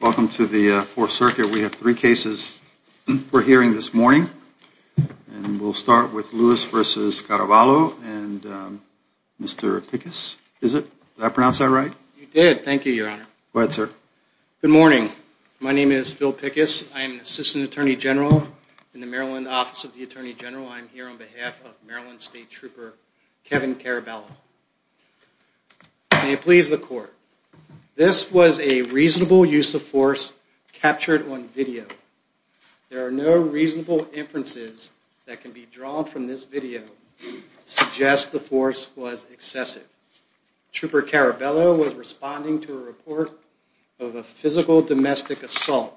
Welcome to the 4th Circuit. We have three cases we're hearing this morning. And we'll start with Lewis v. Caraballo and Mr. Pickus. Is it? Did I pronounce that right? You did. Thank you, Your Honor. Go ahead, sir. Good morning. My name is Phil Pickus. I'm Assistant Attorney General in the Maryland Office of the Attorney General. I'm here on behalf of Maryland State Trooper Kevin Caraballo. May it please the Court. This was a reasonable use of force captured on video. There are no reasonable inferences that can be drawn from this video to suggest the force was excessive. Trooper Caraballo was responding to a report of a physical domestic assault.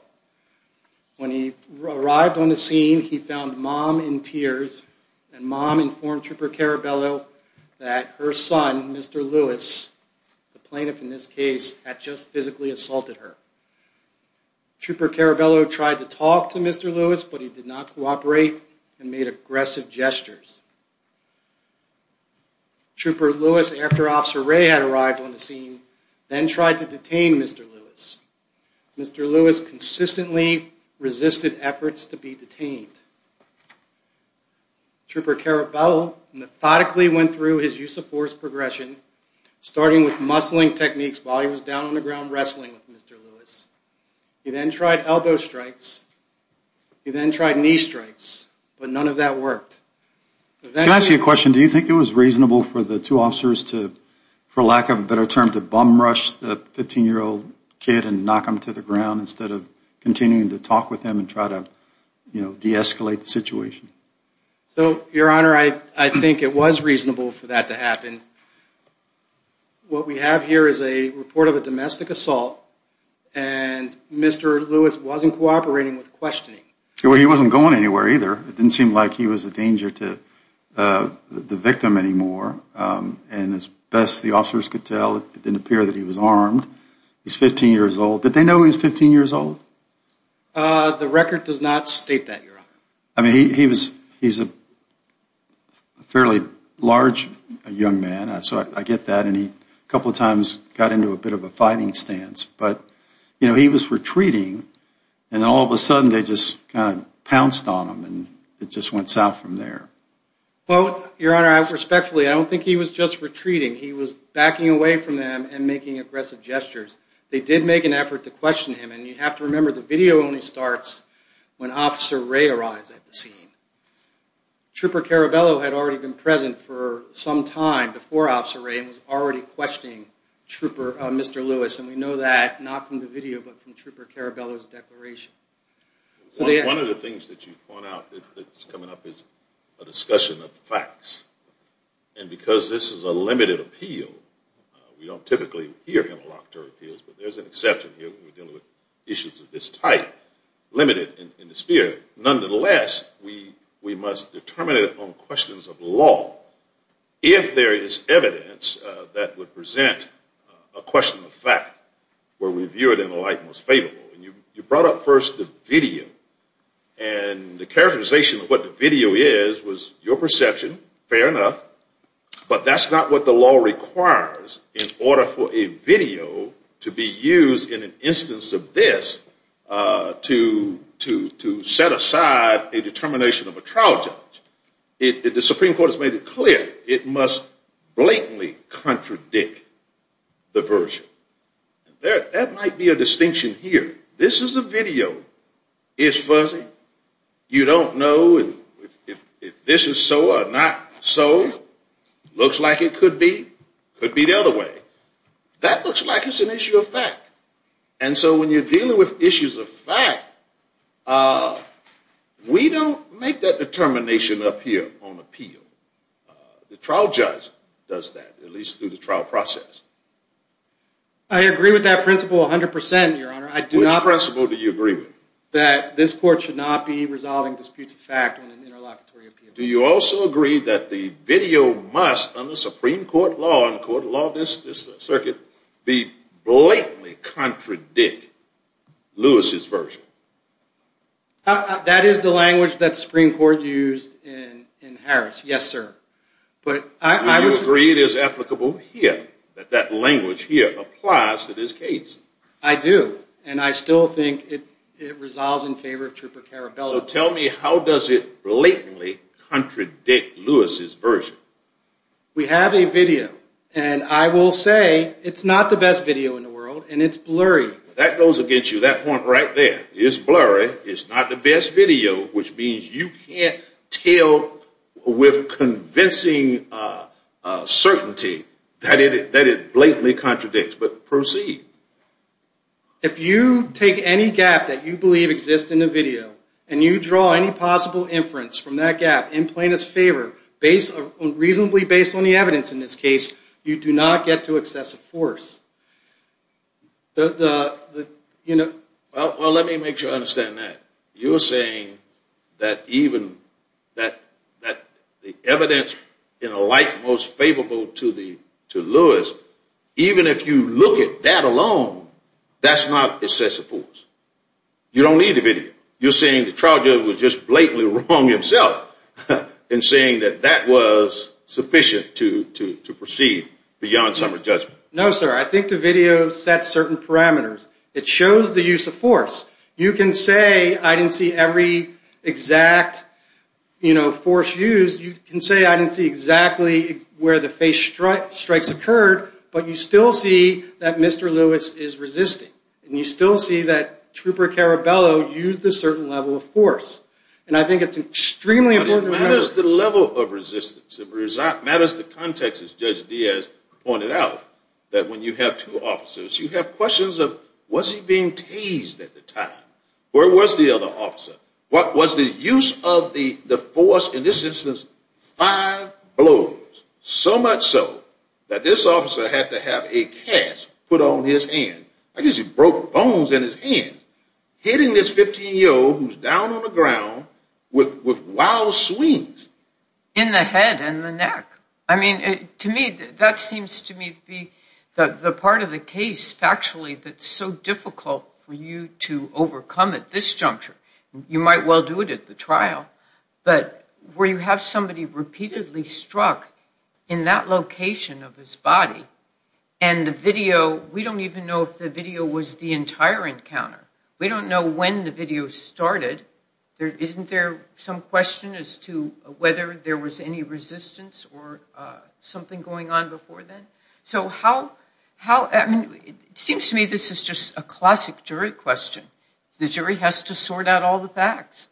When he arrived on the scene, he found Mom in tears. And Mom informed Trooper Caraballo that her son, Mr. Lewis, the plaintiff in this case, had just physically assaulted her. Trooper Caraballo tried to talk to Mr. Lewis, but he did not cooperate and made aggressive gestures. Trooper Lewis, after Officer Ray had arrived on the scene, then tried to detain Mr. Lewis. Mr. Lewis consistently resisted efforts to be detained. Trooper Caraballo methodically went through his use of force progression, starting with muscling techniques while he was down on the ground wrestling with Mr. Lewis. He then tried elbow strikes. He then tried knee strikes, but none of that worked. Can I ask you a question? Do you think it was reasonable for the two officers to, for lack of a better term, to bum rush the 15-year-old kid and knock him to the ground instead of continuing to talk with him and try to, you know, de-escalate the situation? So, Your Honor, I think it was reasonable for that to happen. What we have here is a report of a domestic assault, and Mr. Lewis wasn't cooperating with questioning. Well, he wasn't going anywhere either. It didn't seem like he was a danger to the victim anymore. And as best the officers could tell, it didn't appear that he was armed. He's 15 years old. Did they know he was 15 years old? The record does not state that, Your Honor. I mean, he's a fairly large young man, so I get that. And he a couple of times got into a bit of a fighting stance. But, you know, he was retreating, and then all of a sudden they just kind of pounced on him, and it just went south from there. Well, Your Honor, respectfully, I don't think he was just retreating. He was backing away from them and making aggressive gestures. They did make an effort to question him, and you have to remember, the video only starts when Officer Ray arrives at the scene. Trooper Carabello had already been present for some time before Officer Ray and was already questioning Mr. Lewis, and we know that not from the video but from Trooper Carabello's declaration. One of the things that you point out that's coming up is a discussion of facts, and because this is a limited appeal, we don't typically hear interlocutor appeals, but there's an exception here when we're dealing with issues of this type, limited in the sphere. Nonetheless, we must determine it on questions of law. If there is evidence that would present a question of fact where we view it in the light most favorable, and you brought up first the video, and the characterization of what the video is was your perception, fair enough, but that's not what the law requires in order for a video to be used in an instance of this to set aside a determination of a trial judge. The Supreme Court has made it clear it must blatantly contradict the version. That might be a distinction here. This is a video. It's fuzzy. You don't know if this is so or not so. Looks like it could be. Could be the other way. That looks like it's an issue of fact. And so when you're dealing with issues of fact, we don't make that determination up here on appeal. The trial judge does that, at least through the trial process. I agree with that principle 100%, Your Honor. Which principle do you agree with? That this court should not be resolving disputes of fact on an interlocutory appeal. Do you also agree that the video must, under Supreme Court law and court of law, this circuit, be blatantly contradict Lewis's version? That is the language that the Supreme Court used in Harris. Yes, sir. Do you agree it is applicable here, that that language here applies to this case? I do. And I still think it resolves in favor of Trooper Carabello. So tell me, how does it blatantly contradict Lewis's version? We have a video. And I will say it's not the best video in the world, and it's blurry. That goes against you, that point right there. It's blurry. It's not the best video, which means you can't tell with convincing certainty that it blatantly contradicts. But proceed. If you take any gap that you believe exists in the video, and you draw any possible inference from that gap in plaintiff's favor, reasonably based on the evidence in this case, you do not get to excessive force. Well, let me make sure I understand that. You're saying that the evidence in a light most favorable to Lewis, even if you look at that alone, that's not excessive force. You don't need the video. You're saying the trial judge was just blatantly wrong himself in saying that that was sufficient to proceed beyond summary judgment. No, sir. I think the video sets certain parameters. It shows the use of force. You can say I didn't see every exact force used. You can say I didn't see exactly where the face strikes occurred, but you still see that Mr. Lewis is resisting. And you still see that Trooper Caraballo used a certain level of force. And I think it's extremely important to remember that. But it matters the level of resistance. It matters the context, as Judge Diaz pointed out, that when you have two officers, you have questions of was he being tased at the time? Where was the other officer? What was the use of the force in this instance? Five blows, so much so that this officer had to have a cast put on his hand. I guess he broke bones in his hand. Hitting this 15-year-old who's down on the ground with wild swings. In the head and the neck. I mean, to me, that seems to me to be the part of the case, factually, that's so difficult for you to overcome at this juncture. You might well do it at the trial. But where you have somebody repeatedly struck in that location of his body, and the video, we don't even know if the video was the entire encounter. We don't know when the video started. Isn't there some question as to whether there was any resistance or something going on before then? It seems to me this is just a classic jury question. The jury has to sort out all the facts.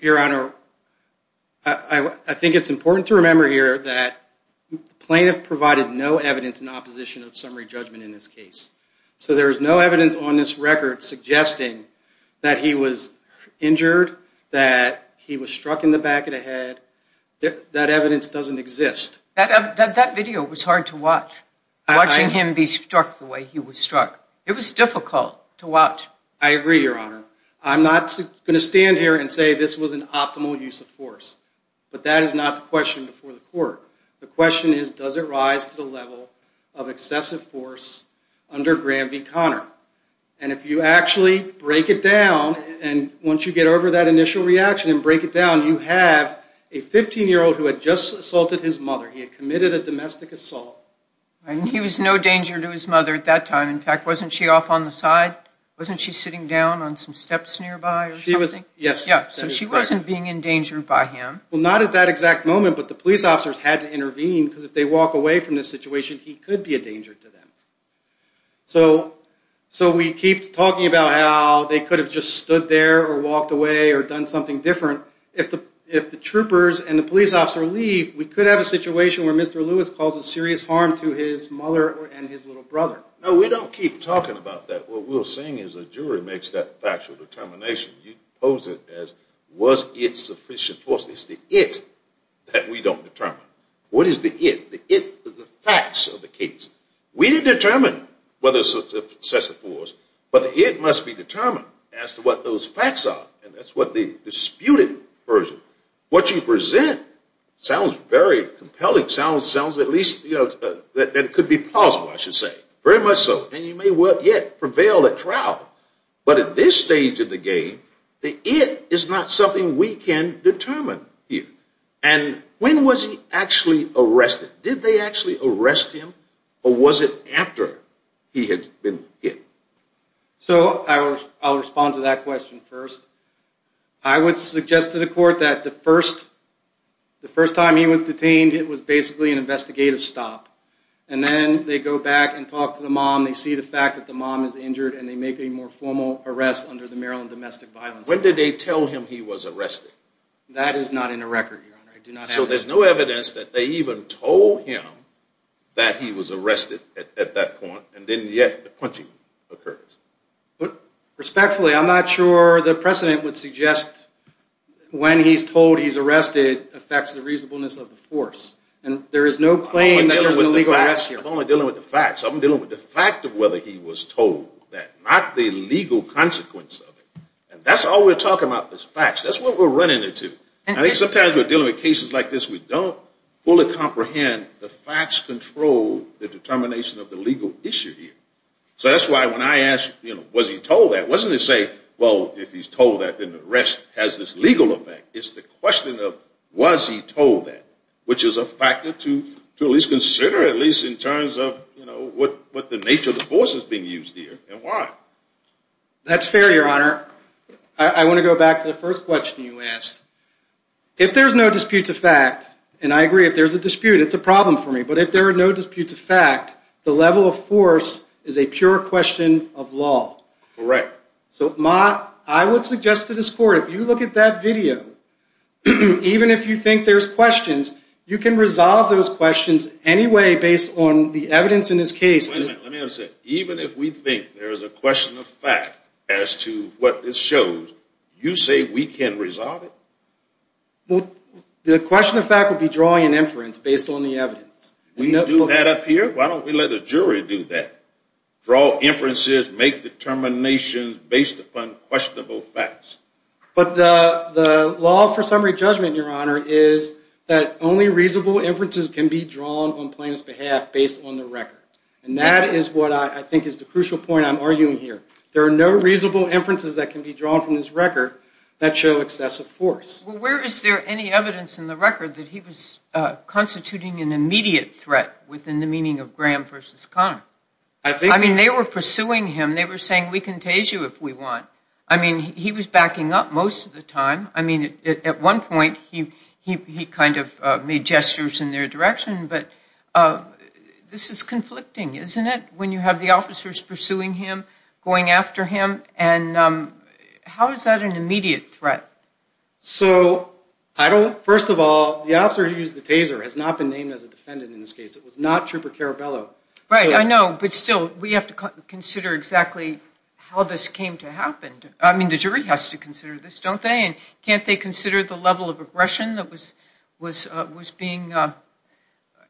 Your Honor, I think it's important to remember here that the plaintiff provided no evidence in opposition of summary judgment in this case. So there is no evidence on this record suggesting that he was injured, that he was struck in the back of the head. That evidence doesn't exist. That video was hard to watch. Watching him be struck the way he was struck. It was difficult to watch. I agree, Your Honor. I'm not going to stand here and say this was an optimal use of force. But that is not the question before the court. The question is, does it rise to the level of excessive force under Graham v. Conner? And if you actually break it down, and once you get over that initial reaction and break it down, you have a 15-year-old who had just assaulted his mother. He had committed a domestic assault. And he was no danger to his mother at that time. In fact, wasn't she off on the side? Wasn't she sitting down on some steps nearby or something? She was, yes. So she wasn't being endangered by him. Well, not at that exact moment, but the police officers had to intervene because if they walk away from this situation, he could be a danger to them. So we keep talking about how they could have just stood there or walked away or done something different. If the troopers and the police officer leave, we could have a situation where Mr. Lewis causes serious harm to his mother and his little brother. No, we don't keep talking about that. What we're saying is the jury makes that factual determination. You pose it as was it sufficient. Of course, it's the it that we don't determine. What is the it? The it is the facts of the case. We didn't determine whether it's a success or fault, but the it must be determined as to what those facts are, and that's what the disputed version. What you present sounds very compelling, sounds at least that it could be possible, I should say, very much so. And you may well yet prevail at trial. But at this stage of the game, the it is not something we can determine here. And when was he actually arrested? Did they actually arrest him, or was it after he had been hit? So I'll respond to that question first. I would suggest to the court that the first time he was detained, it was basically an investigative stop. And then they go back and talk to the mom. They see the fact that the mom is injured, and they make a more formal arrest under the Maryland Domestic Violence Act. When did they tell him he was arrested? That is not in the record, Your Honor. So there's no evidence that they even told him that he was arrested at that point, and then yet the punching occurs. Respectfully, I'm not sure the precedent would suggest when he's told he's arrested affects the reasonableness of the force. And there is no claim that there's an illegal arrest here. I'm dealing with the fact of whether he was told that, not the legal consequence of it. And that's all we're talking about is facts. That's what we're running into. I think sometimes we're dealing with cases like this where we don't fully comprehend the facts control the determination of the legal issue here. So that's why when I asked, you know, was he told that, it wasn't to say, well, if he's told that, then the arrest has this legal effect. It's the question of was he told that, which is a factor to at least consider, at least in terms of what the nature of the force is being used here and why. That's fair, Your Honor. I want to go back to the first question you asked. If there's no disputes of fact, and I agree, if there's a dispute, it's a problem for me, but if there are no disputes of fact, the level of force is a pure question of law. Correct. So I would suggest to this Court, if you look at that video, even if you think there's questions, you can resolve those questions anyway based on the evidence in this case. Wait a minute, let me understand. Even if we think there's a question of fact as to what it shows, you say we can resolve it? Well, the question of fact would be drawing an inference based on the evidence. We do that up here? Why don't we let a jury do that? Draw inferences, make determinations based upon questionable facts. But the law for summary judgment, Your Honor, is that only reasonable inferences can be drawn on plaintiff's behalf based on the record. And that is what I think is the crucial point I'm arguing here. There are no reasonable inferences that can be drawn from this record that show excessive force. Well, where is there any evidence in the record that he was constituting an immediate threat within the meaning of Graham v. Conner? I mean, they were pursuing him. They were saying, we can tase you if we want. I mean, he was backing up most of the time. I mean, at one point, he kind of made gestures in their direction. But this is conflicting, isn't it, when you have the officers pursuing him, going after him? And how is that an immediate threat? So, first of all, the officer who used the taser has not been named as a defendant in this case. It was not Trooper Caraballo. Right, I know. But still, we have to consider exactly how this came to happen. I mean, the jury has to consider this, don't they? And can't they consider the level of aggression that was being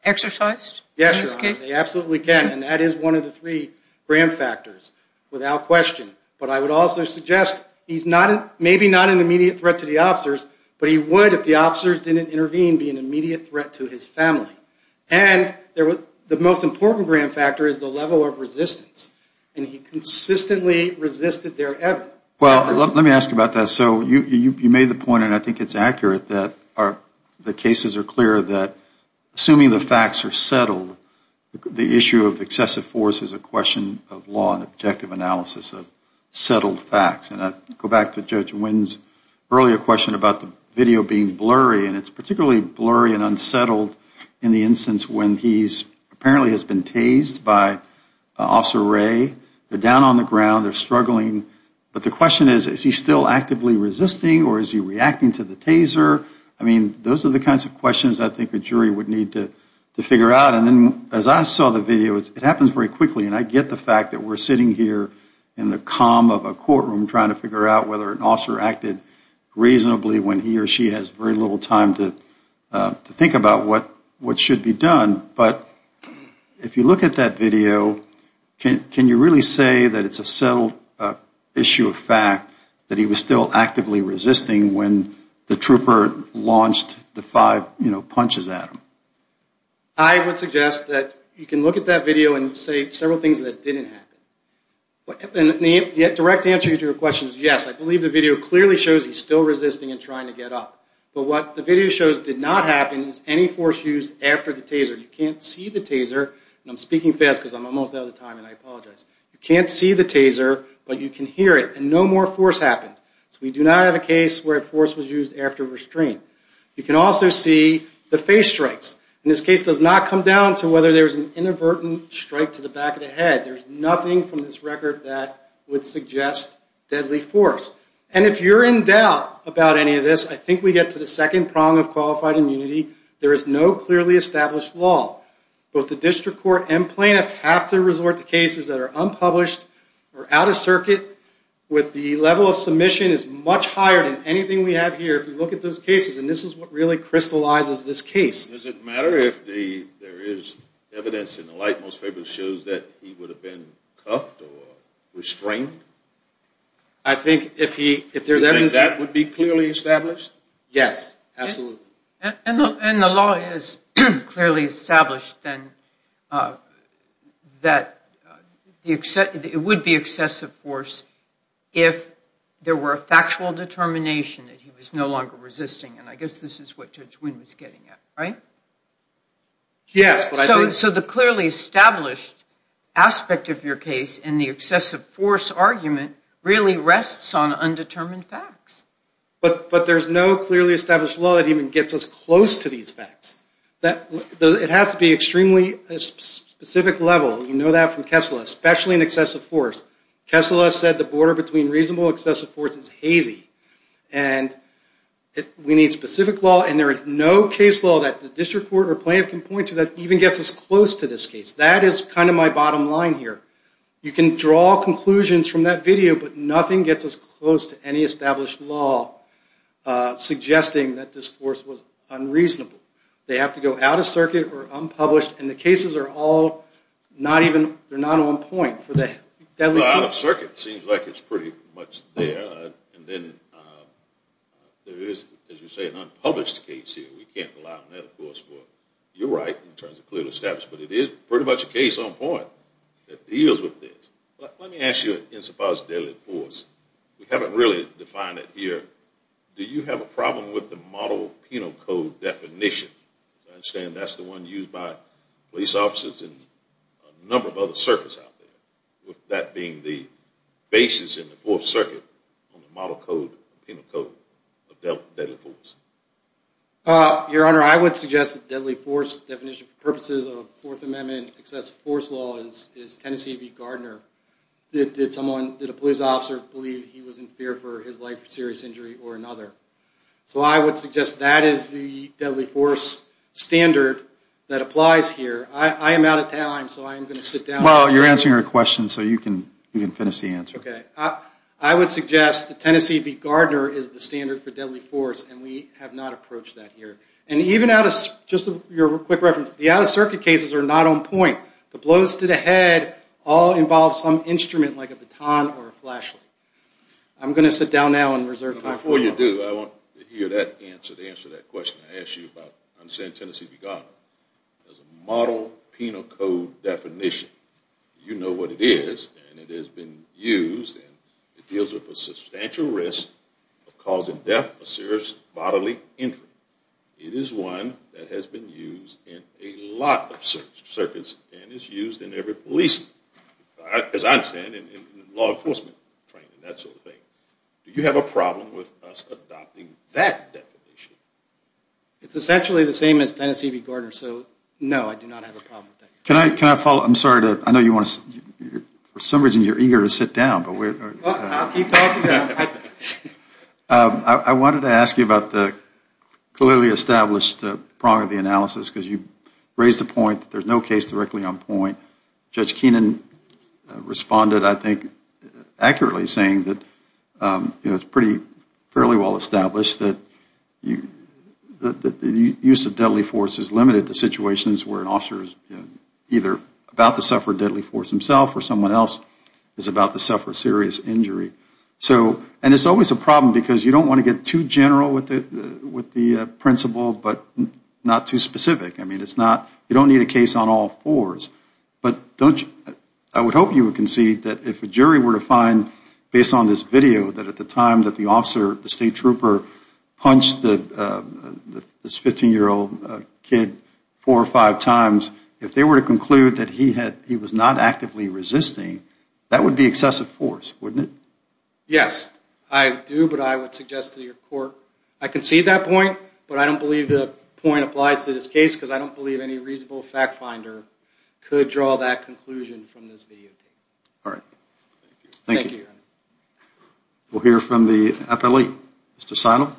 exercised in this case? Yes, Your Honor, they absolutely can. And that is one of the three Graham factors, without question. But I would also suggest he's maybe not an immediate threat to the officers, but he would, if the officers didn't intervene, be an immediate threat to his family. And the most important Graham factor is the level of resistance. And he consistently resisted their evidence. Well, let me ask you about that. So you made the point, and I think it's accurate, that the cases are clear that assuming the facts are settled, the issue of excessive force is a question of law and objective analysis of settled facts. And I go back to Judge Wynn's earlier question about the video being blurry, and it's particularly blurry and unsettled in the instance when he apparently has been tased by Officer Ray. They're down on the ground. They're struggling. But the question is, is he still actively resisting, or is he reacting to the taser? I mean, those are the kinds of questions I think a jury would need to figure out. And then as I saw the video, it happens very quickly, and I get the fact that we're sitting here in the calm of a courtroom trying to figure out whether an officer acted reasonably when he or she has very little time to think about what should be done. But if you look at that video, can you really say that it's a settled issue of fact that he was still actively resisting when the trooper launched the five punches at him? I would suggest that you can look at that video and say several things that didn't happen. The direct answer to your question is yes. I believe the video clearly shows he's still resisting and trying to get up. But what the video shows did not happen is any force used after the taser. You can't see the taser. And I'm speaking fast because I'm almost out of time, and I apologize. You can't see the taser, but you can hear it. And no more force happened. So we do not have a case where a force was used after restraint. You can also see the face strikes. And this case does not come down to whether there's an inadvertent strike to the back of the head. There's nothing from this record that would suggest deadly force. And if you're in doubt about any of this, I think we get to the second prong of qualified immunity. There is no clearly established law. Both the district court and plaintiff have to resort to cases that are unpublished or out of circuit with the level of submission is much higher than anything we have here if we look at those cases. And this is what really crystallizes this case. Does it matter if there is evidence in the light most favorably shows that he would have been cuffed or restrained? I think if there's evidence... You think that would be clearly established? Yes. Absolutely. And the law is clearly established then that it would be excessive force if there were a factual determination that he was no longer resisting. And I guess this is what Judge Wynn was getting at, right? Yes. So the clearly established aspect of your case in the excessive force argument really rests on undetermined facts. But there's no clearly established law that even gets us close to these facts. It has to be extremely specific level. You know that from Kessler, especially in excessive force. And we need specific law. And there is no case law that the district court or plaintiff can point to that even gets us close to this case. That is kind of my bottom line here. You can draw conclusions from that video, but nothing gets us close to any established law suggesting that this force was unreasonable. They have to go out of circuit or unpublished. And the cases are all not even... They're not on point for the deadly force. Going out of circuit seems like it's pretty much there. And then there is, as you say, an unpublished case here. We can't rely on that, of course, for your right in terms of clearly established. But it is pretty much a case on point that deals with this. Let me ask you in so far as the deadly force. We haven't really defined it here. Do you have a problem with the model penal code definition? I understand that's the one used by police officers in a number of other circuits out there, with that being the basis in the Fourth Circuit on the model penal code of deadly force. Your Honor, I would suggest that the deadly force definition for purposes of Fourth Amendment excessive force law is Tennessee v. Gardner. Did a police officer believe he was in fear for his life for serious injury or another? So I would suggest that is the deadly force standard that applies here. I am out of time, so I am going to sit down. Well, you're answering our question, so you can finish the answer. Okay. I would suggest that Tennessee v. Gardner is the standard for deadly force, and we have not approached that here. And even out of... Just a quick reference. The out-of-circuit cases are not on point. The blows to the head all involve some instrument like a baton or a flashlight. I'm going to sit down now and reserve time for... Before you do, I want to hear that answer, the answer to that question I asked you about Tennessee v. Gardner. As a model penal code definition, you know what it is, and it has been used. It deals with a substantial risk of causing death or serious bodily injury. It is one that has been used in a lot of circuits and is used in every policing, as I understand, in law enforcement training, that sort of thing. Do you have a problem with us adopting that definition? It's essentially the same as Tennessee v. Gardner, so no, I do not have a problem with that. Can I follow? I'm sorry to... I know you want to... For some reason, you're eager to sit down, but we're... I'll keep talking. I wanted to ask you about the clearly established prong of the analysis, because you raised the point that there's no case directly on point. Judge Keenan responded, I think, accurately saying that it's pretty fairly well established that the use of deadly force is limited to situations where an officer is either about to suffer deadly force himself or someone else is about to suffer serious injury. And it's always a problem, because you don't want to get too general with the principle, but not too specific. I mean, it's not... You don't need a case on all fours. But don't you... I would hope you would concede that if a jury were to find, based on this video, that at the time that the officer, the state trooper, punched this 15-year-old kid four or five times, if they were to conclude that he was not actively resisting, that would be excessive force, wouldn't it? Yes, I do, but I would suggest to your court... I concede that point, but I don't believe the point applies to this case, because I don't believe any reasonable fact finder could draw that conclusion from this videotape. All right. Thank you, Your Honor. We'll hear from the appellee. Mr. Seidel.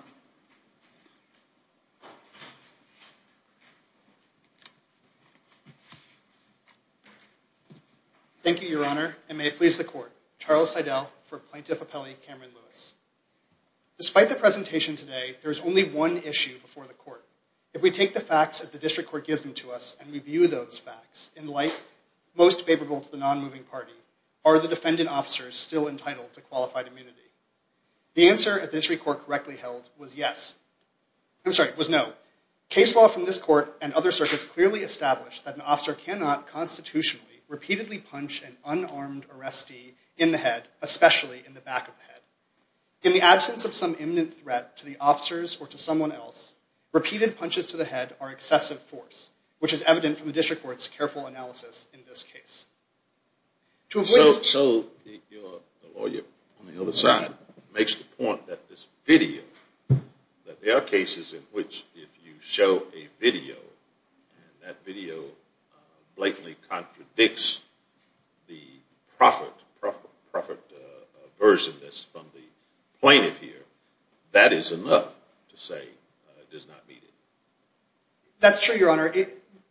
Thank you, Your Honor, and may it please the court. Charles Seidel for Plaintiff Appellee Cameron Lewis. Despite the presentation today, there is only one issue before the court. If we take the facts as the district court gives them to us and review those facts, in light most favorable to the non-moving party, are the defendant officers still entitled to qualified immunity? The answer, as the district court correctly held, was yes. I'm sorry, was no. Case law from this court and other circuits clearly established that an officer cannot constitutionally repeatedly punch an unarmed arrestee in the head, especially in the back of the head. In the absence of some imminent threat to the officers or to someone else, repeated punches to the head are excessive force, which is evident from the district court's careful analysis in this case. So the lawyer on the other side makes the point that this video, that there are cases in which if you show a video and that video blatantly contradicts the proffered version that's from the plaintiff here, that is enough to say it does not meet it. That's true, Your Honor.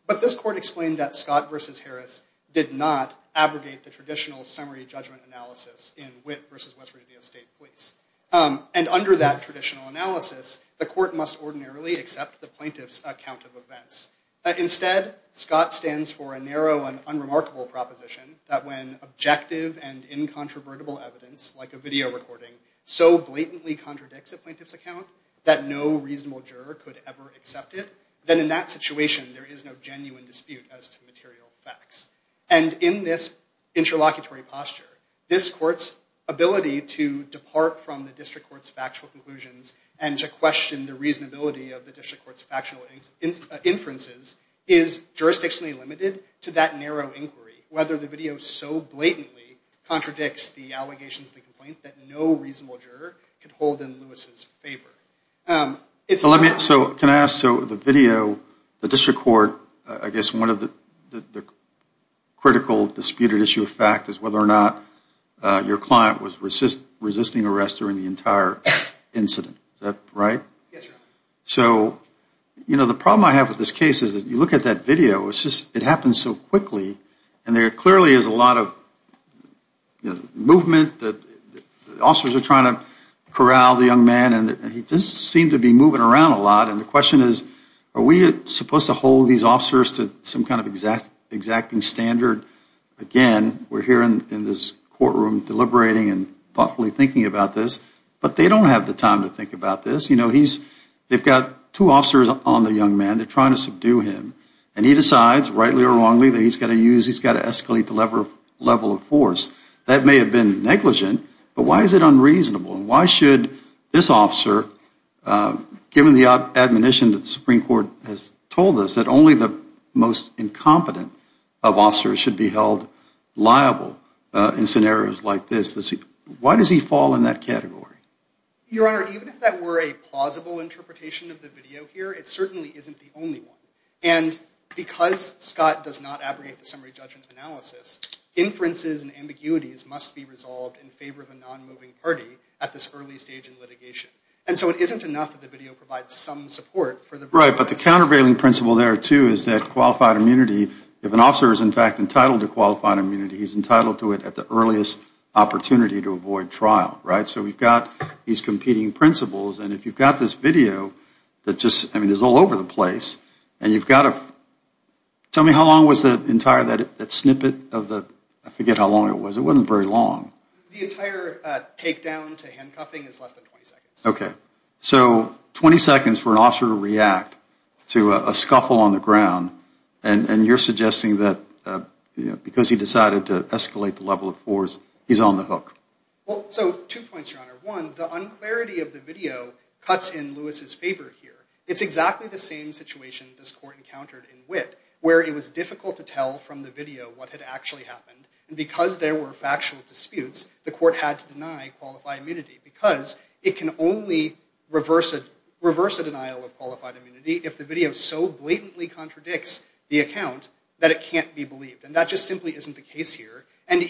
But this court explained that Scott v. Harris did not abrogate the traditional summary judgment analysis in Witt v. West Virginia State Police. And under that traditional analysis, the court must ordinarily accept the plaintiff's account of events. Instead, Scott stands for a narrow and unremarkable proposition that when objective and incontrovertible evidence, like a video recording, so blatantly contradicts a plaintiff's account that no reasonable juror could ever accept it, then in that situation there is no genuine dispute as to material facts. And in this interlocutory posture, this court's ability to depart from the district court's factual conclusions and to question the reasonability of the district court's factual inferences is jurisdictionally limited to that narrow inquiry, whether the video so blatantly contradicts the allegations of the complaint that no reasonable juror could hold in Lewis's favor. So can I ask, so the video, the district court, I guess one of the critical disputed issue of fact is whether or not your client was resisting arrest during the entire incident. Is that right? Yes, Your Honor. So, you know, the problem I have with this case is that you look at that video, it happens so quickly and there clearly is a lot of movement, officers are trying to corral the young man and he just seemed to be moving around a lot. And the question is, are we supposed to hold these officers to some kind of exacting standard? Again, we're here in this courtroom deliberating and thoughtfully thinking about this, but they don't have the time to think about this. They've got two officers on the young man, they're trying to subdue him, and he decides, rightly or wrongly, that he's got to use, he's got to escalate the level of force. That may have been negligent, but why is it unreasonable? And why should this officer, given the admonition that the Supreme Court has told us, that only the most incompetent of officers should be held liable in scenarios like this? Why does he fall in that category? Your Honor, even if that were a plausible interpretation of the video here, it certainly isn't the only one. And because Scott does not abrogate the summary judgment analysis, inferences and ambiguities must be resolved in favor of the non-moving party at this early stage in litigation. And so it isn't enough that the video provides some support for the... Right, but the countervailing principle there, too, is that qualified immunity, if an officer is in fact entitled to qualified immunity, he's entitled to it at the earliest opportunity to avoid trial, right? So we've got these competing principles, and if you've got this video that just, I mean, is all over the place, and you've got to... Tell me how long was the entire, that snippet of the, I forget how long it was. It wasn't very long. The entire takedown to handcuffing is less than 20 seconds. Okay. So 20 seconds for an officer to react to a scuffle on the ground, and you're suggesting that because he decided to escalate the level of force, he's on the hook. Well, so two points, Your Honor. One, the unclarity of the video cuts in Lewis's favor here. It's exactly the same situation this court encountered in Witt, where it was difficult to tell from the video what had actually happened. And because there were factual disputes, the court had to deny qualified immunity, because it can only reverse a denial of qualified immunity if the video so blatantly contradicts the account that it can't be believed. And that just simply isn't the case here. And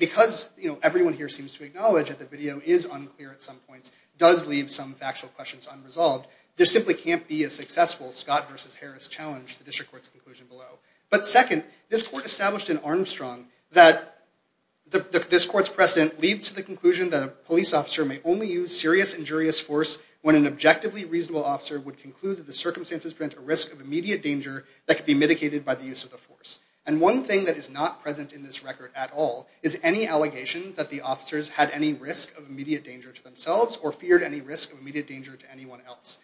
because everyone here seems to acknowledge that the video is unclear at some points, does leave some factual questions unresolved, there simply can't be a successful Scott versus Harris challenge to the district court's conclusion below. But second, this court established in Armstrong that this court's precedent leads to the conclusion that a police officer may only use serious injurious force when an objectively reasonable officer would conclude that the circumstances present a risk of immediate danger that could be mitigated by the use of the force. And one thing that is not present in this record at all is any allegations that the officers had any risk of immediate danger to themselves or feared any risk of immediate danger to anyone else.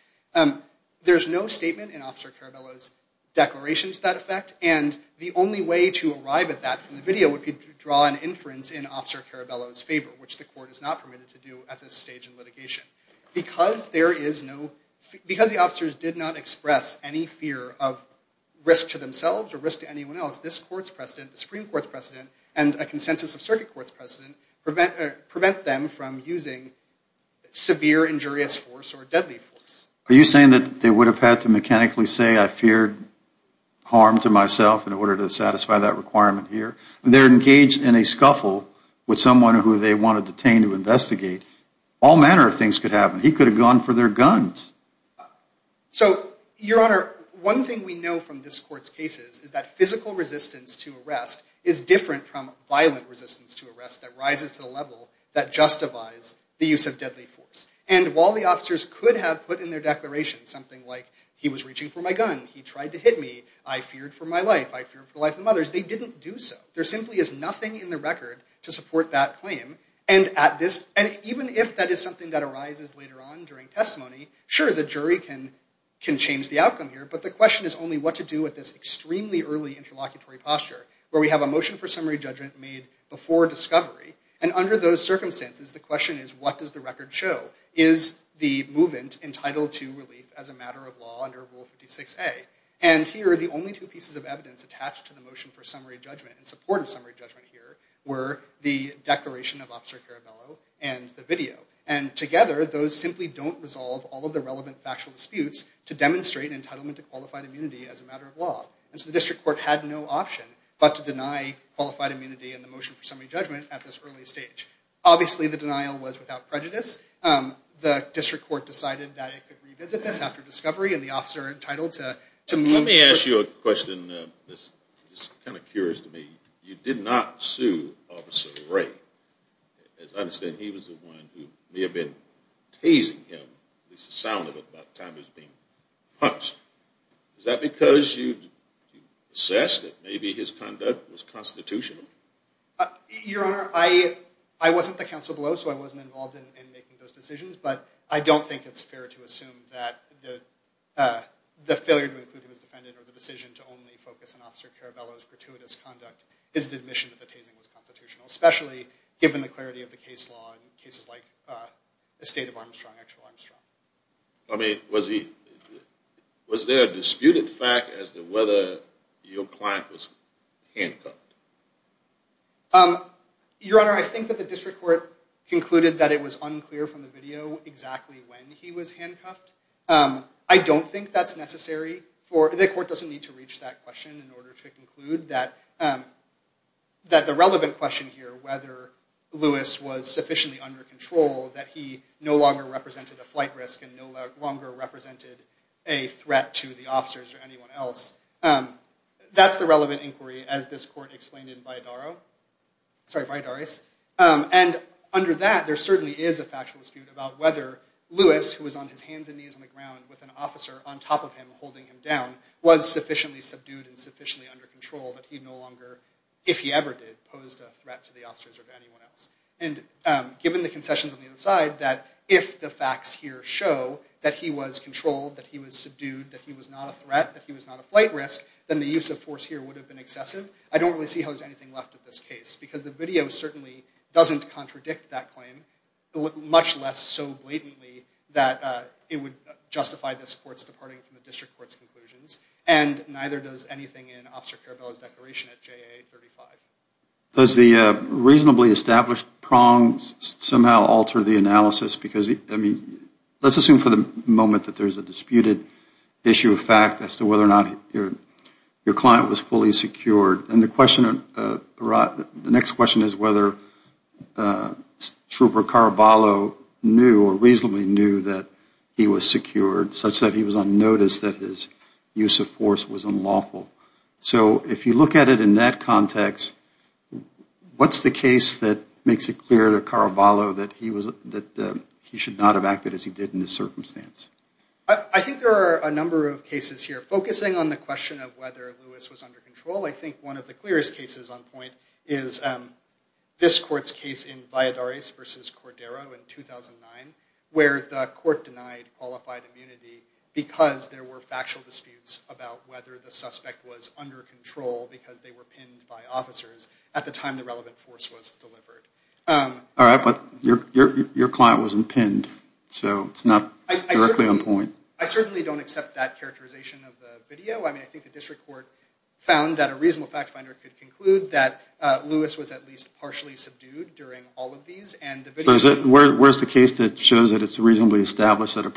There's no statement in Officer Caraballo's declaration to that effect, and the only way to arrive at that from the video would be to draw an inference in Officer Caraballo's favor, which the court is not permitted to do at this stage in litigation. Because the officers did not express any fear of risk to themselves or risk to anyone else, this court's precedent, the Supreme Court's precedent, and a consensus of circuit court's precedent prevent them from using severe injurious force or deadly force. Are you saying that they would have had to mechanically say I feared harm to myself in order to satisfy that requirement here? They're engaged in a scuffle with someone who they wanted detained to investigate. All manner of things could happen. He could have gone for their guns. So, Your Honor, one thing we know from this court's cases is that physical resistance to arrest is different from violent resistance to arrest that rises to the level that justifies the use of deadly force. And while the officers could have put in their declaration something like he was reaching for my gun, he tried to hit me, I feared for my life, I feared for the life of others, they didn't do so. There simply is nothing in the record to support that claim. And even if that is something that arises later on during testimony, sure, the jury can change the outcome here. But the question is only what to do with this extremely early interlocutory posture where we have a motion for summary judgment made before discovery. And under those circumstances, the question is what does the record show? Is the movant entitled to relief as a matter of law under Rule 56A? And here, the only two pieces of evidence attached to the motion for summary judgment in support of summary judgment here were the declaration of Officer Caraballo and the video. And together, those simply don't resolve all of the relevant factual disputes to demonstrate entitlement to qualified immunity as a matter of law. And so the district court had no option but to deny qualified immunity in the motion for summary judgment at this early stage. Obviously, the denial was without prejudice. The district court decided that it could revisit this after discovery and the officer entitled to move. Let me ask you a question that's kind of curious to me. You did not sue Officer Ray. As I understand, he was the one who may have been teasing him, at least the sound of it, about the time he was being punched. Is that because you assessed that maybe his conduct was constitutional? Your Honor, I wasn't the counsel below, so I wasn't involved in making those decisions. But I don't think it's fair to assume that the failure to include him as defendant or the decision to only focus on Officer Caraballo's gratuitous conduct is an admission that the teasing was constitutional, especially given the clarity of the case law in cases like the state of Armstrong, actual Armstrong. I mean, was there a disputed fact as to whether your client was handcuffed? Your Honor, I think that the district court concluded that it was unclear from the video exactly when he was handcuffed. I don't think that's necessary. The court doesn't need to reach that question in order to conclude that the relevant question here, whether Lewis was sufficiently under control, that he no longer represented a flight risk and no longer represented a threat to the officers or anyone else, that's the relevant inquiry, as this court explained in Vidares. And under that, there certainly is a factual dispute about whether Lewis, who was on his hands and knees on the ground with an officer on top of him holding him down, was sufficiently subdued and sufficiently under control that he no longer, if he ever did, posed a threat to the officers or to anyone else. And given the concessions on the other side, that if the facts here show that he was controlled, that he was subdued, that he was not a threat, that he was not a flight risk, then the use of force here would have been excessive. I don't really see how there's anything left of this case, because the video certainly doesn't contradict that claim, much less so blatantly that it would justify this court's departing from the district court's conclusions. And neither does anything in Officer Carabello's declaration at JA 35. Does the reasonably established prongs somehow alter the analysis? Let's assume for the moment that there's a disputed issue of fact as to whether or not your client was fully secured. The next question is whether Trooper Carabello knew or reasonably knew that he was secured, such that he was on notice that his use of force was unlawful. So if you look at it in that context, what's the case that makes it clear to Carabello that he should not have acted as he did in this circumstance? I think there are a number of cases here. Focusing on the question of whether Lewis was under control, I think one of the clearest cases on point is this court's case in Valladares v. Cordero in 2009, where the court denied qualified immunity because there were factual disputes about whether the suspect was under control because they were pinned by officers at the time the relevant force was delivered. All right, but your client wasn't pinned, so it's not directly on point. I certainly don't accept that characterization of the video. I mean, I think the district court found that a reasonable fact finder could conclude that Lewis was at least partially subdued during all of these. So where's the case that shows that it's reasonably established that an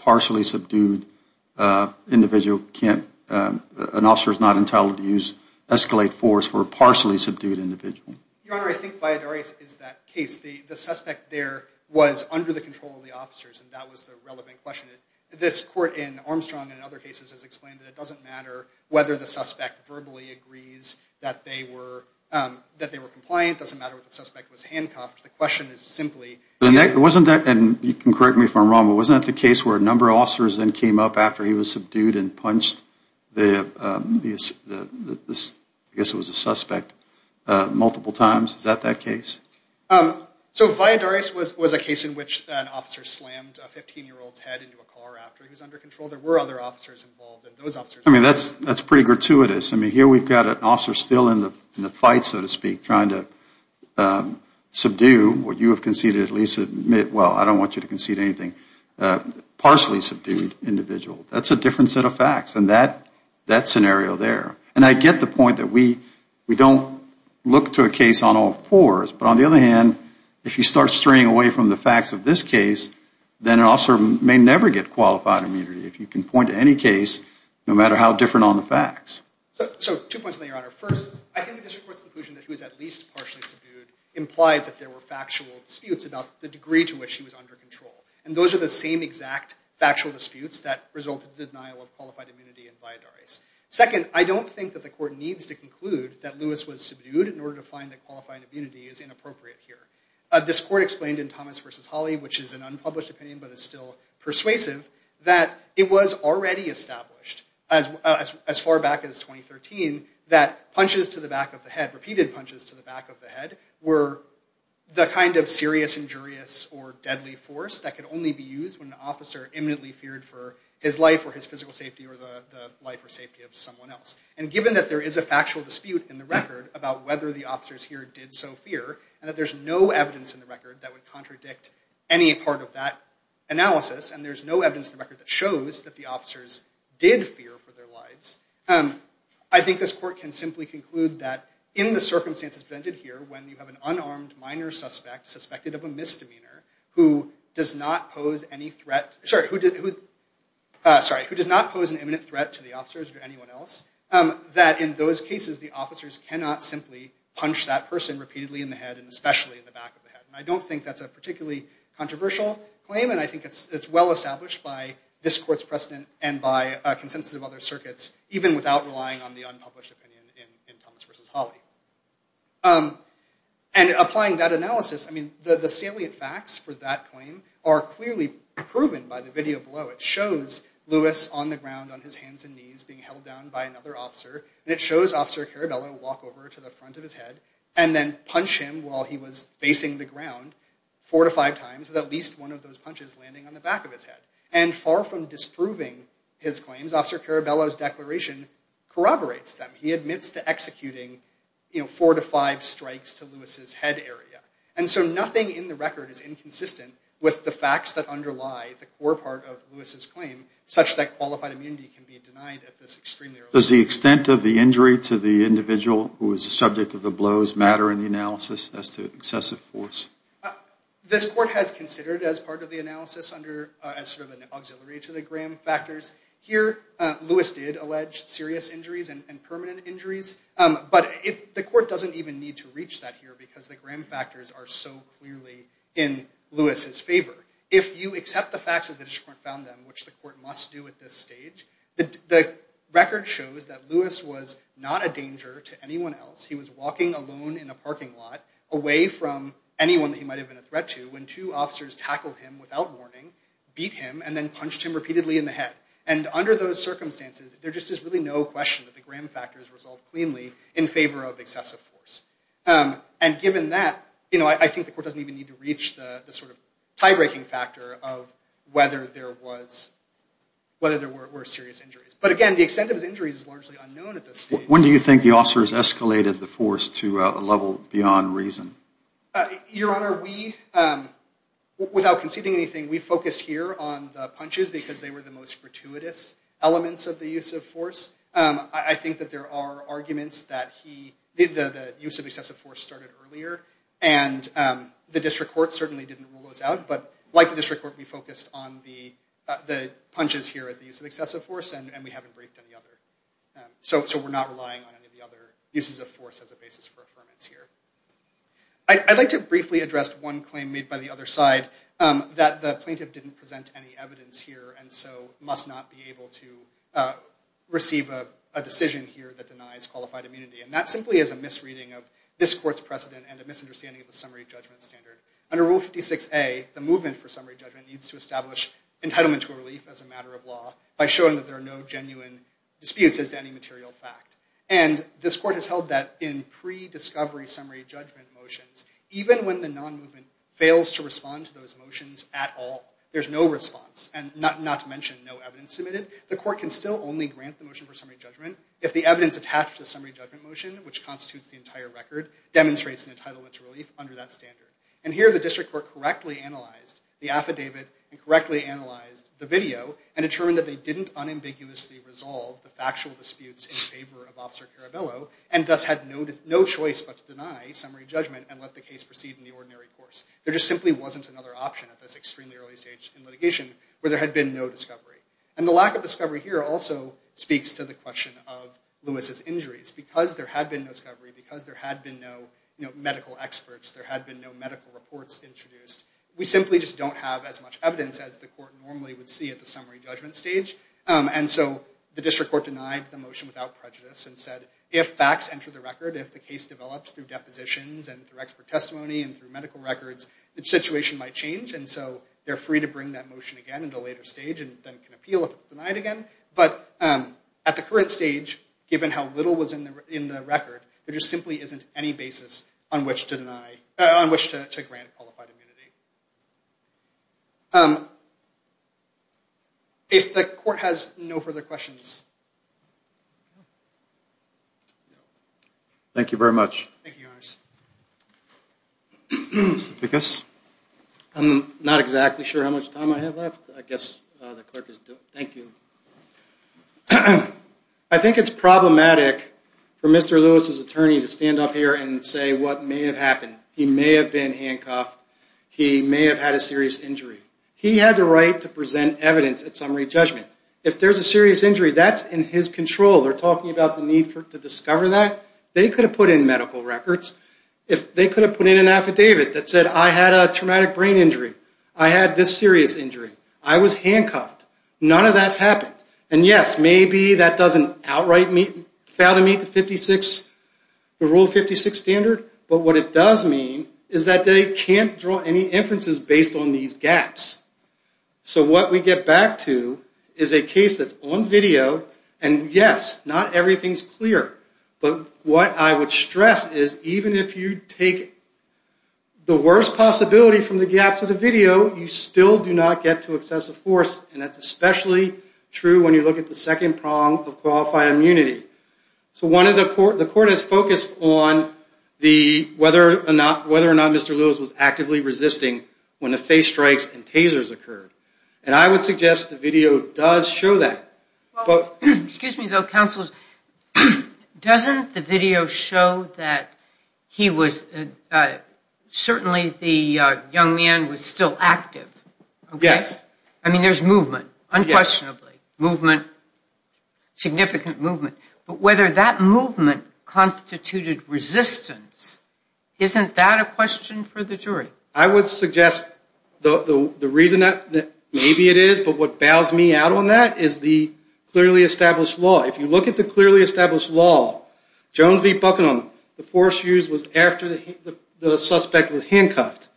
officer is not entitled to use escalate force for a partially subdued individual? Your Honor, I think Valladares is that case. The suspect there was under the control of the officers, and that was the relevant question. This court in Armstrong and other cases has explained that it doesn't matter whether the suspect verbally agrees that they were compliant. It doesn't matter if the suspect was handcuffed. The question is simply... And wasn't that, and you can correct me if I'm wrong, but wasn't that the case where a number of officers then came up after he was subdued and punched the, I guess it was a suspect, multiple times? Is that that case? So Valladares was a case in which an officer slammed a 15-year-old's head into a car after he was under control. There were other officers involved, and those officers... I mean, that's pretty gratuitous. I mean, here we've got an officer still in the fight, so to speak, trying to subdue what you have conceded, at least admit, well, I don't want you to concede anything, a partially subdued individual. That's a different set of facts than that scenario there. And I get the point that we don't look to a case on all fours. But on the other hand, if you start straying away from the facts of this case, then an officer may never get qualified immunity if you can point to any case, no matter how different on the facts. So two points on that, Your Honor. First, I think the district court's conclusion that he was at least partially subdued implies that there were factual disputes about the degree to which he was under control. And those are the same exact factual disputes that resulted in the denial of qualified immunity in Valladares. Second, I don't think that the court needs to conclude that Lewis was subdued in order to find that qualified immunity is inappropriate here. This court explained in Thomas v. Hawley, which is an unpublished opinion but is still persuasive, that it was already established as far back as 2013 that punches to the back of the head, repeated punches to the back of the head, were the kind of serious, injurious, or deadly force that could only be used when an officer imminently feared for his life or his physical safety or the life or safety of someone else. And given that there is a factual dispute in the record about whether the officers here did so fear and that there's no evidence in the record that would contradict any part of that analysis and there's no evidence in the record that shows that the officers did fear for their lives, I think this court can simply conclude that in the circumstances presented here when you have an unarmed minor suspect suspected of a misdemeanor who does not pose an imminent threat to the officers or anyone else, that in those cases the officers cannot simply punch that person repeatedly in the head and especially in the back of the head. I don't think that's a particularly controversial claim and I think it's well established by this court's precedent and by a consensus of other circuits even without relying on the unpublished opinion in Thomas v. Hawley. And applying that analysis, I mean, the salient facts for that claim are clearly proven by the video below. It shows Lewis on the ground on his hands and knees being held down by another officer and it shows Officer Caraballo walk over to the front of his head and then punch him while he was facing the ground four to five times with at least one of those punches landing on the back of his head. And far from disproving his claims, Officer Caraballo's declaration corroborates them. He admits to executing four to five strikes to Lewis's head area. And so nothing in the record is inconsistent with the facts that underlie the core part of Lewis's claim such that qualified immunity can be denied at this extremely early stage. Does the extent of the injury to the individual who was the subject of the blows matter in the analysis as to excessive force? This court has considered as part of the analysis as sort of an auxiliary to the Graham factors. Here, Lewis did allege serious injuries and permanent injuries. But the court doesn't even need to reach that here because the Graham factors are so clearly in Lewis's favor. If you accept the facts as the district court found them, which the court must do at this stage, the record shows that Lewis was not a danger to anyone else. He was walking alone in a parking lot away from anyone that he might have been a threat to when two officers tackled him without warning, beat him, and then punched him repeatedly in the head. And under those circumstances, there just is really no question that the Graham factors resolve cleanly in favor of excessive force. And given that, I think the court doesn't even need to reach the sort of tie-breaking factor of whether there were serious injuries. But again, the extent of his injuries is largely unknown at this stage. When do you think the officers escalated the force to a level beyond reason? Your Honor, without conceding anything, we focused here on the punches because they were the most gratuitous elements of the use of force. I think that there are arguments that the use of excessive force started earlier, and the district court certainly didn't rule those out. But like the district court, we focused on the punches here as the use of excessive force, and we haven't briefed any other. So we're not relying on any of the other uses of force as a basis for affirmance here. I'd like to briefly address one claim made by the other side, that the plaintiff didn't present any evidence here, and so must not be able to receive a decision here that denies qualified immunity. And that simply is a misreading of this court's precedent and a misunderstanding of the summary judgment standard. Under Rule 56A, the movement for summary judgment needs to establish entitlement to a relief as a matter of law by showing that there are no genuine disputes as to any material fact. And this court has held that in pre-discovery summary judgment motions, even when the non-movement fails to respond to those motions at all, there's no response, not to mention no evidence submitted, the court can still only grant the motion for summary judgment if the evidence attached to the summary judgment motion, which constitutes the entire record, demonstrates an entitlement to relief under that standard. And here the district court correctly analyzed the affidavit, and correctly analyzed the video, and determined that they didn't unambiguously resolve the factual disputes in favor of Officer Carabello, and thus had no choice but to deny summary judgment and let the case proceed in the ordinary course. There just simply wasn't another option at this extremely early stage in litigation where there had been no discovery. And the lack of discovery here also speaks to the question of Lewis's injuries. Because there had been no discovery, because there had been no medical experts, there had been no medical reports introduced, we simply just don't have as much evidence as the court normally would see at the summary judgment stage. And so the district court denied the motion without prejudice, and said if facts enter the record, if the case develops through depositions, and through expert testimony, and through medical records, the situation might change. And so they're free to bring that motion again at a later stage, and then can appeal if it's denied again. But at the current stage, given how little was in the record, there just simply isn't any basis on which to grant qualified immunity. If the court has no further questions. Thank you very much. Mr. Ficus. I'm not exactly sure how much time I have left. I guess the clerk is due. Thank you. I think it's problematic for Mr. Lewis's attorney to stand up here and say what may have happened. He may have been handcuffed. He may have had a serious injury. He had the right to present evidence at summary judgment. If there's a serious injury, that's in his control. They're talking about the need to discover that. They could have put in medical records. They could have put in an affidavit that said I had a traumatic brain injury. I had this serious injury. I was handcuffed. None of that happened. And, yes, maybe that doesn't outright fail to meet the Rule 56 standard, but what it does mean is that they can't draw any inferences based on these gaps. So what we get back to is a case that's on video, and, yes, not everything's clear. But what I would stress is even if you take the worst possibility from the gaps of the video, you still do not get to excessive force, and that's especially true when you look at the second prong of qualified immunity. So the court has focused on whether or not Mr. Lewis was actively resisting when the face strikes and tasers occurred. And I would suggest the video does show that. Excuse me, though, counsel. Doesn't the video show that he was certainly the young man was still active? Yes. I mean, there's movement, unquestionably, movement, significant movement. But whether that movement constituted resistance, isn't that a question for the jury? I would suggest the reason that maybe it is, but what bows me out on that, is the clearly established law. If you look at the clearly established law, Jones v. Buckingham, the force used was after the suspect was handcuffed.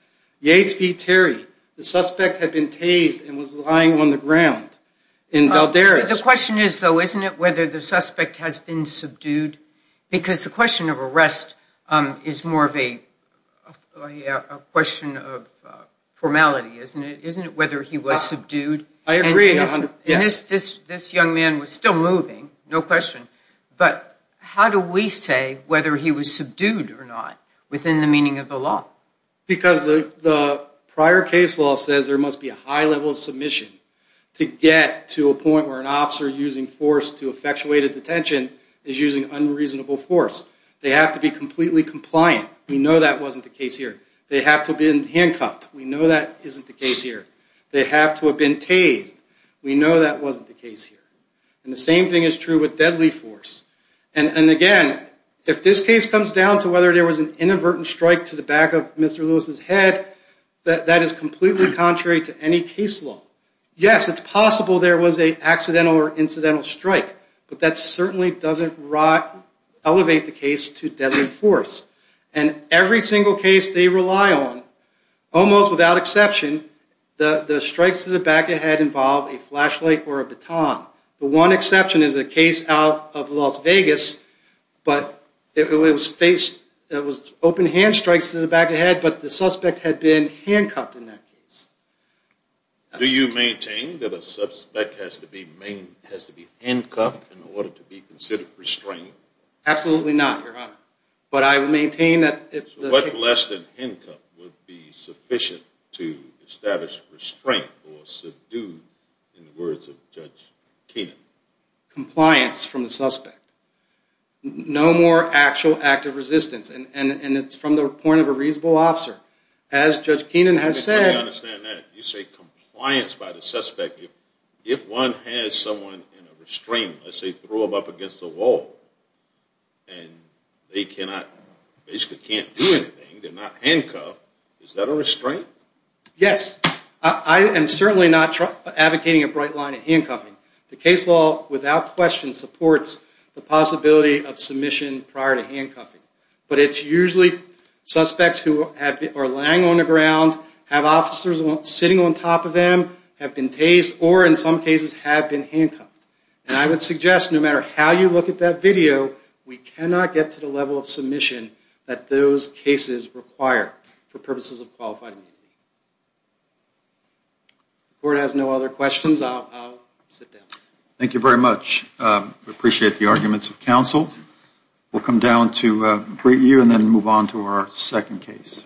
Yates v. Terry, the suspect had been tased and was lying on the ground in Valdez. The question is, though, isn't it, whether the suspect has been subdued? Because the question of arrest is more of a question of formality, isn't it? Isn't it whether he was subdued? I agree. And this young man was still moving, no question, but how do we say whether he was subdued or not within the meaning of the law? Because the prior case law says there must be a high level of submission to get to a point where an officer using force to effectuate a detention is using unreasonable force. They have to be completely compliant. We know that wasn't the case here. They have to have been handcuffed. We know that isn't the case here. They have to have been tased. We know that wasn't the case here. And the same thing is true with deadly force. And, again, if this case comes down to whether there was an inadvertent strike to the back of Mr. Lewis' head, that is completely contrary to any case law. Yes, it's possible there was an accidental or incidental strike, but that certainly doesn't elevate the case to deadly force. And every single case they rely on, almost without exception, the strikes to the back of the head involve a flashlight or a baton. The one exception is a case out of Las Vegas, but it was open-hand strikes to the back of the head, but the suspect had been handcuffed in that case. Do you maintain that a suspect has to be handcuffed in order to be considered restrained? Absolutely not, Your Honor. But I maintain that if the... So what less than handcuff would be sufficient to establish restraint or subdue, in the words of Judge Keenan? Compliance from the suspect. No more actual act of resistance, and it's from the point of a reasonable officer. As Judge Keenan has said... I understand that. You say compliance by the suspect. If one has someone in a restraint, let's say threw them up against a wall, and they basically can't do anything, they're not handcuffed, is that a restraint? Yes. I am certainly not advocating a bright line of handcuffing. The case law, without question, supports the possibility of submission prior to handcuffing. But it's usually suspects who are lying on the ground, have officers sitting on top of them, have been tased, or in some cases have been handcuffed. And I would suggest no matter how you look at that video, we cannot get to the level of submission that those cases require for purposes of qualified immunity. If the Court has no other questions, I'll sit down. I appreciate the arguments of counsel. We'll come down to review and then move on to our second case.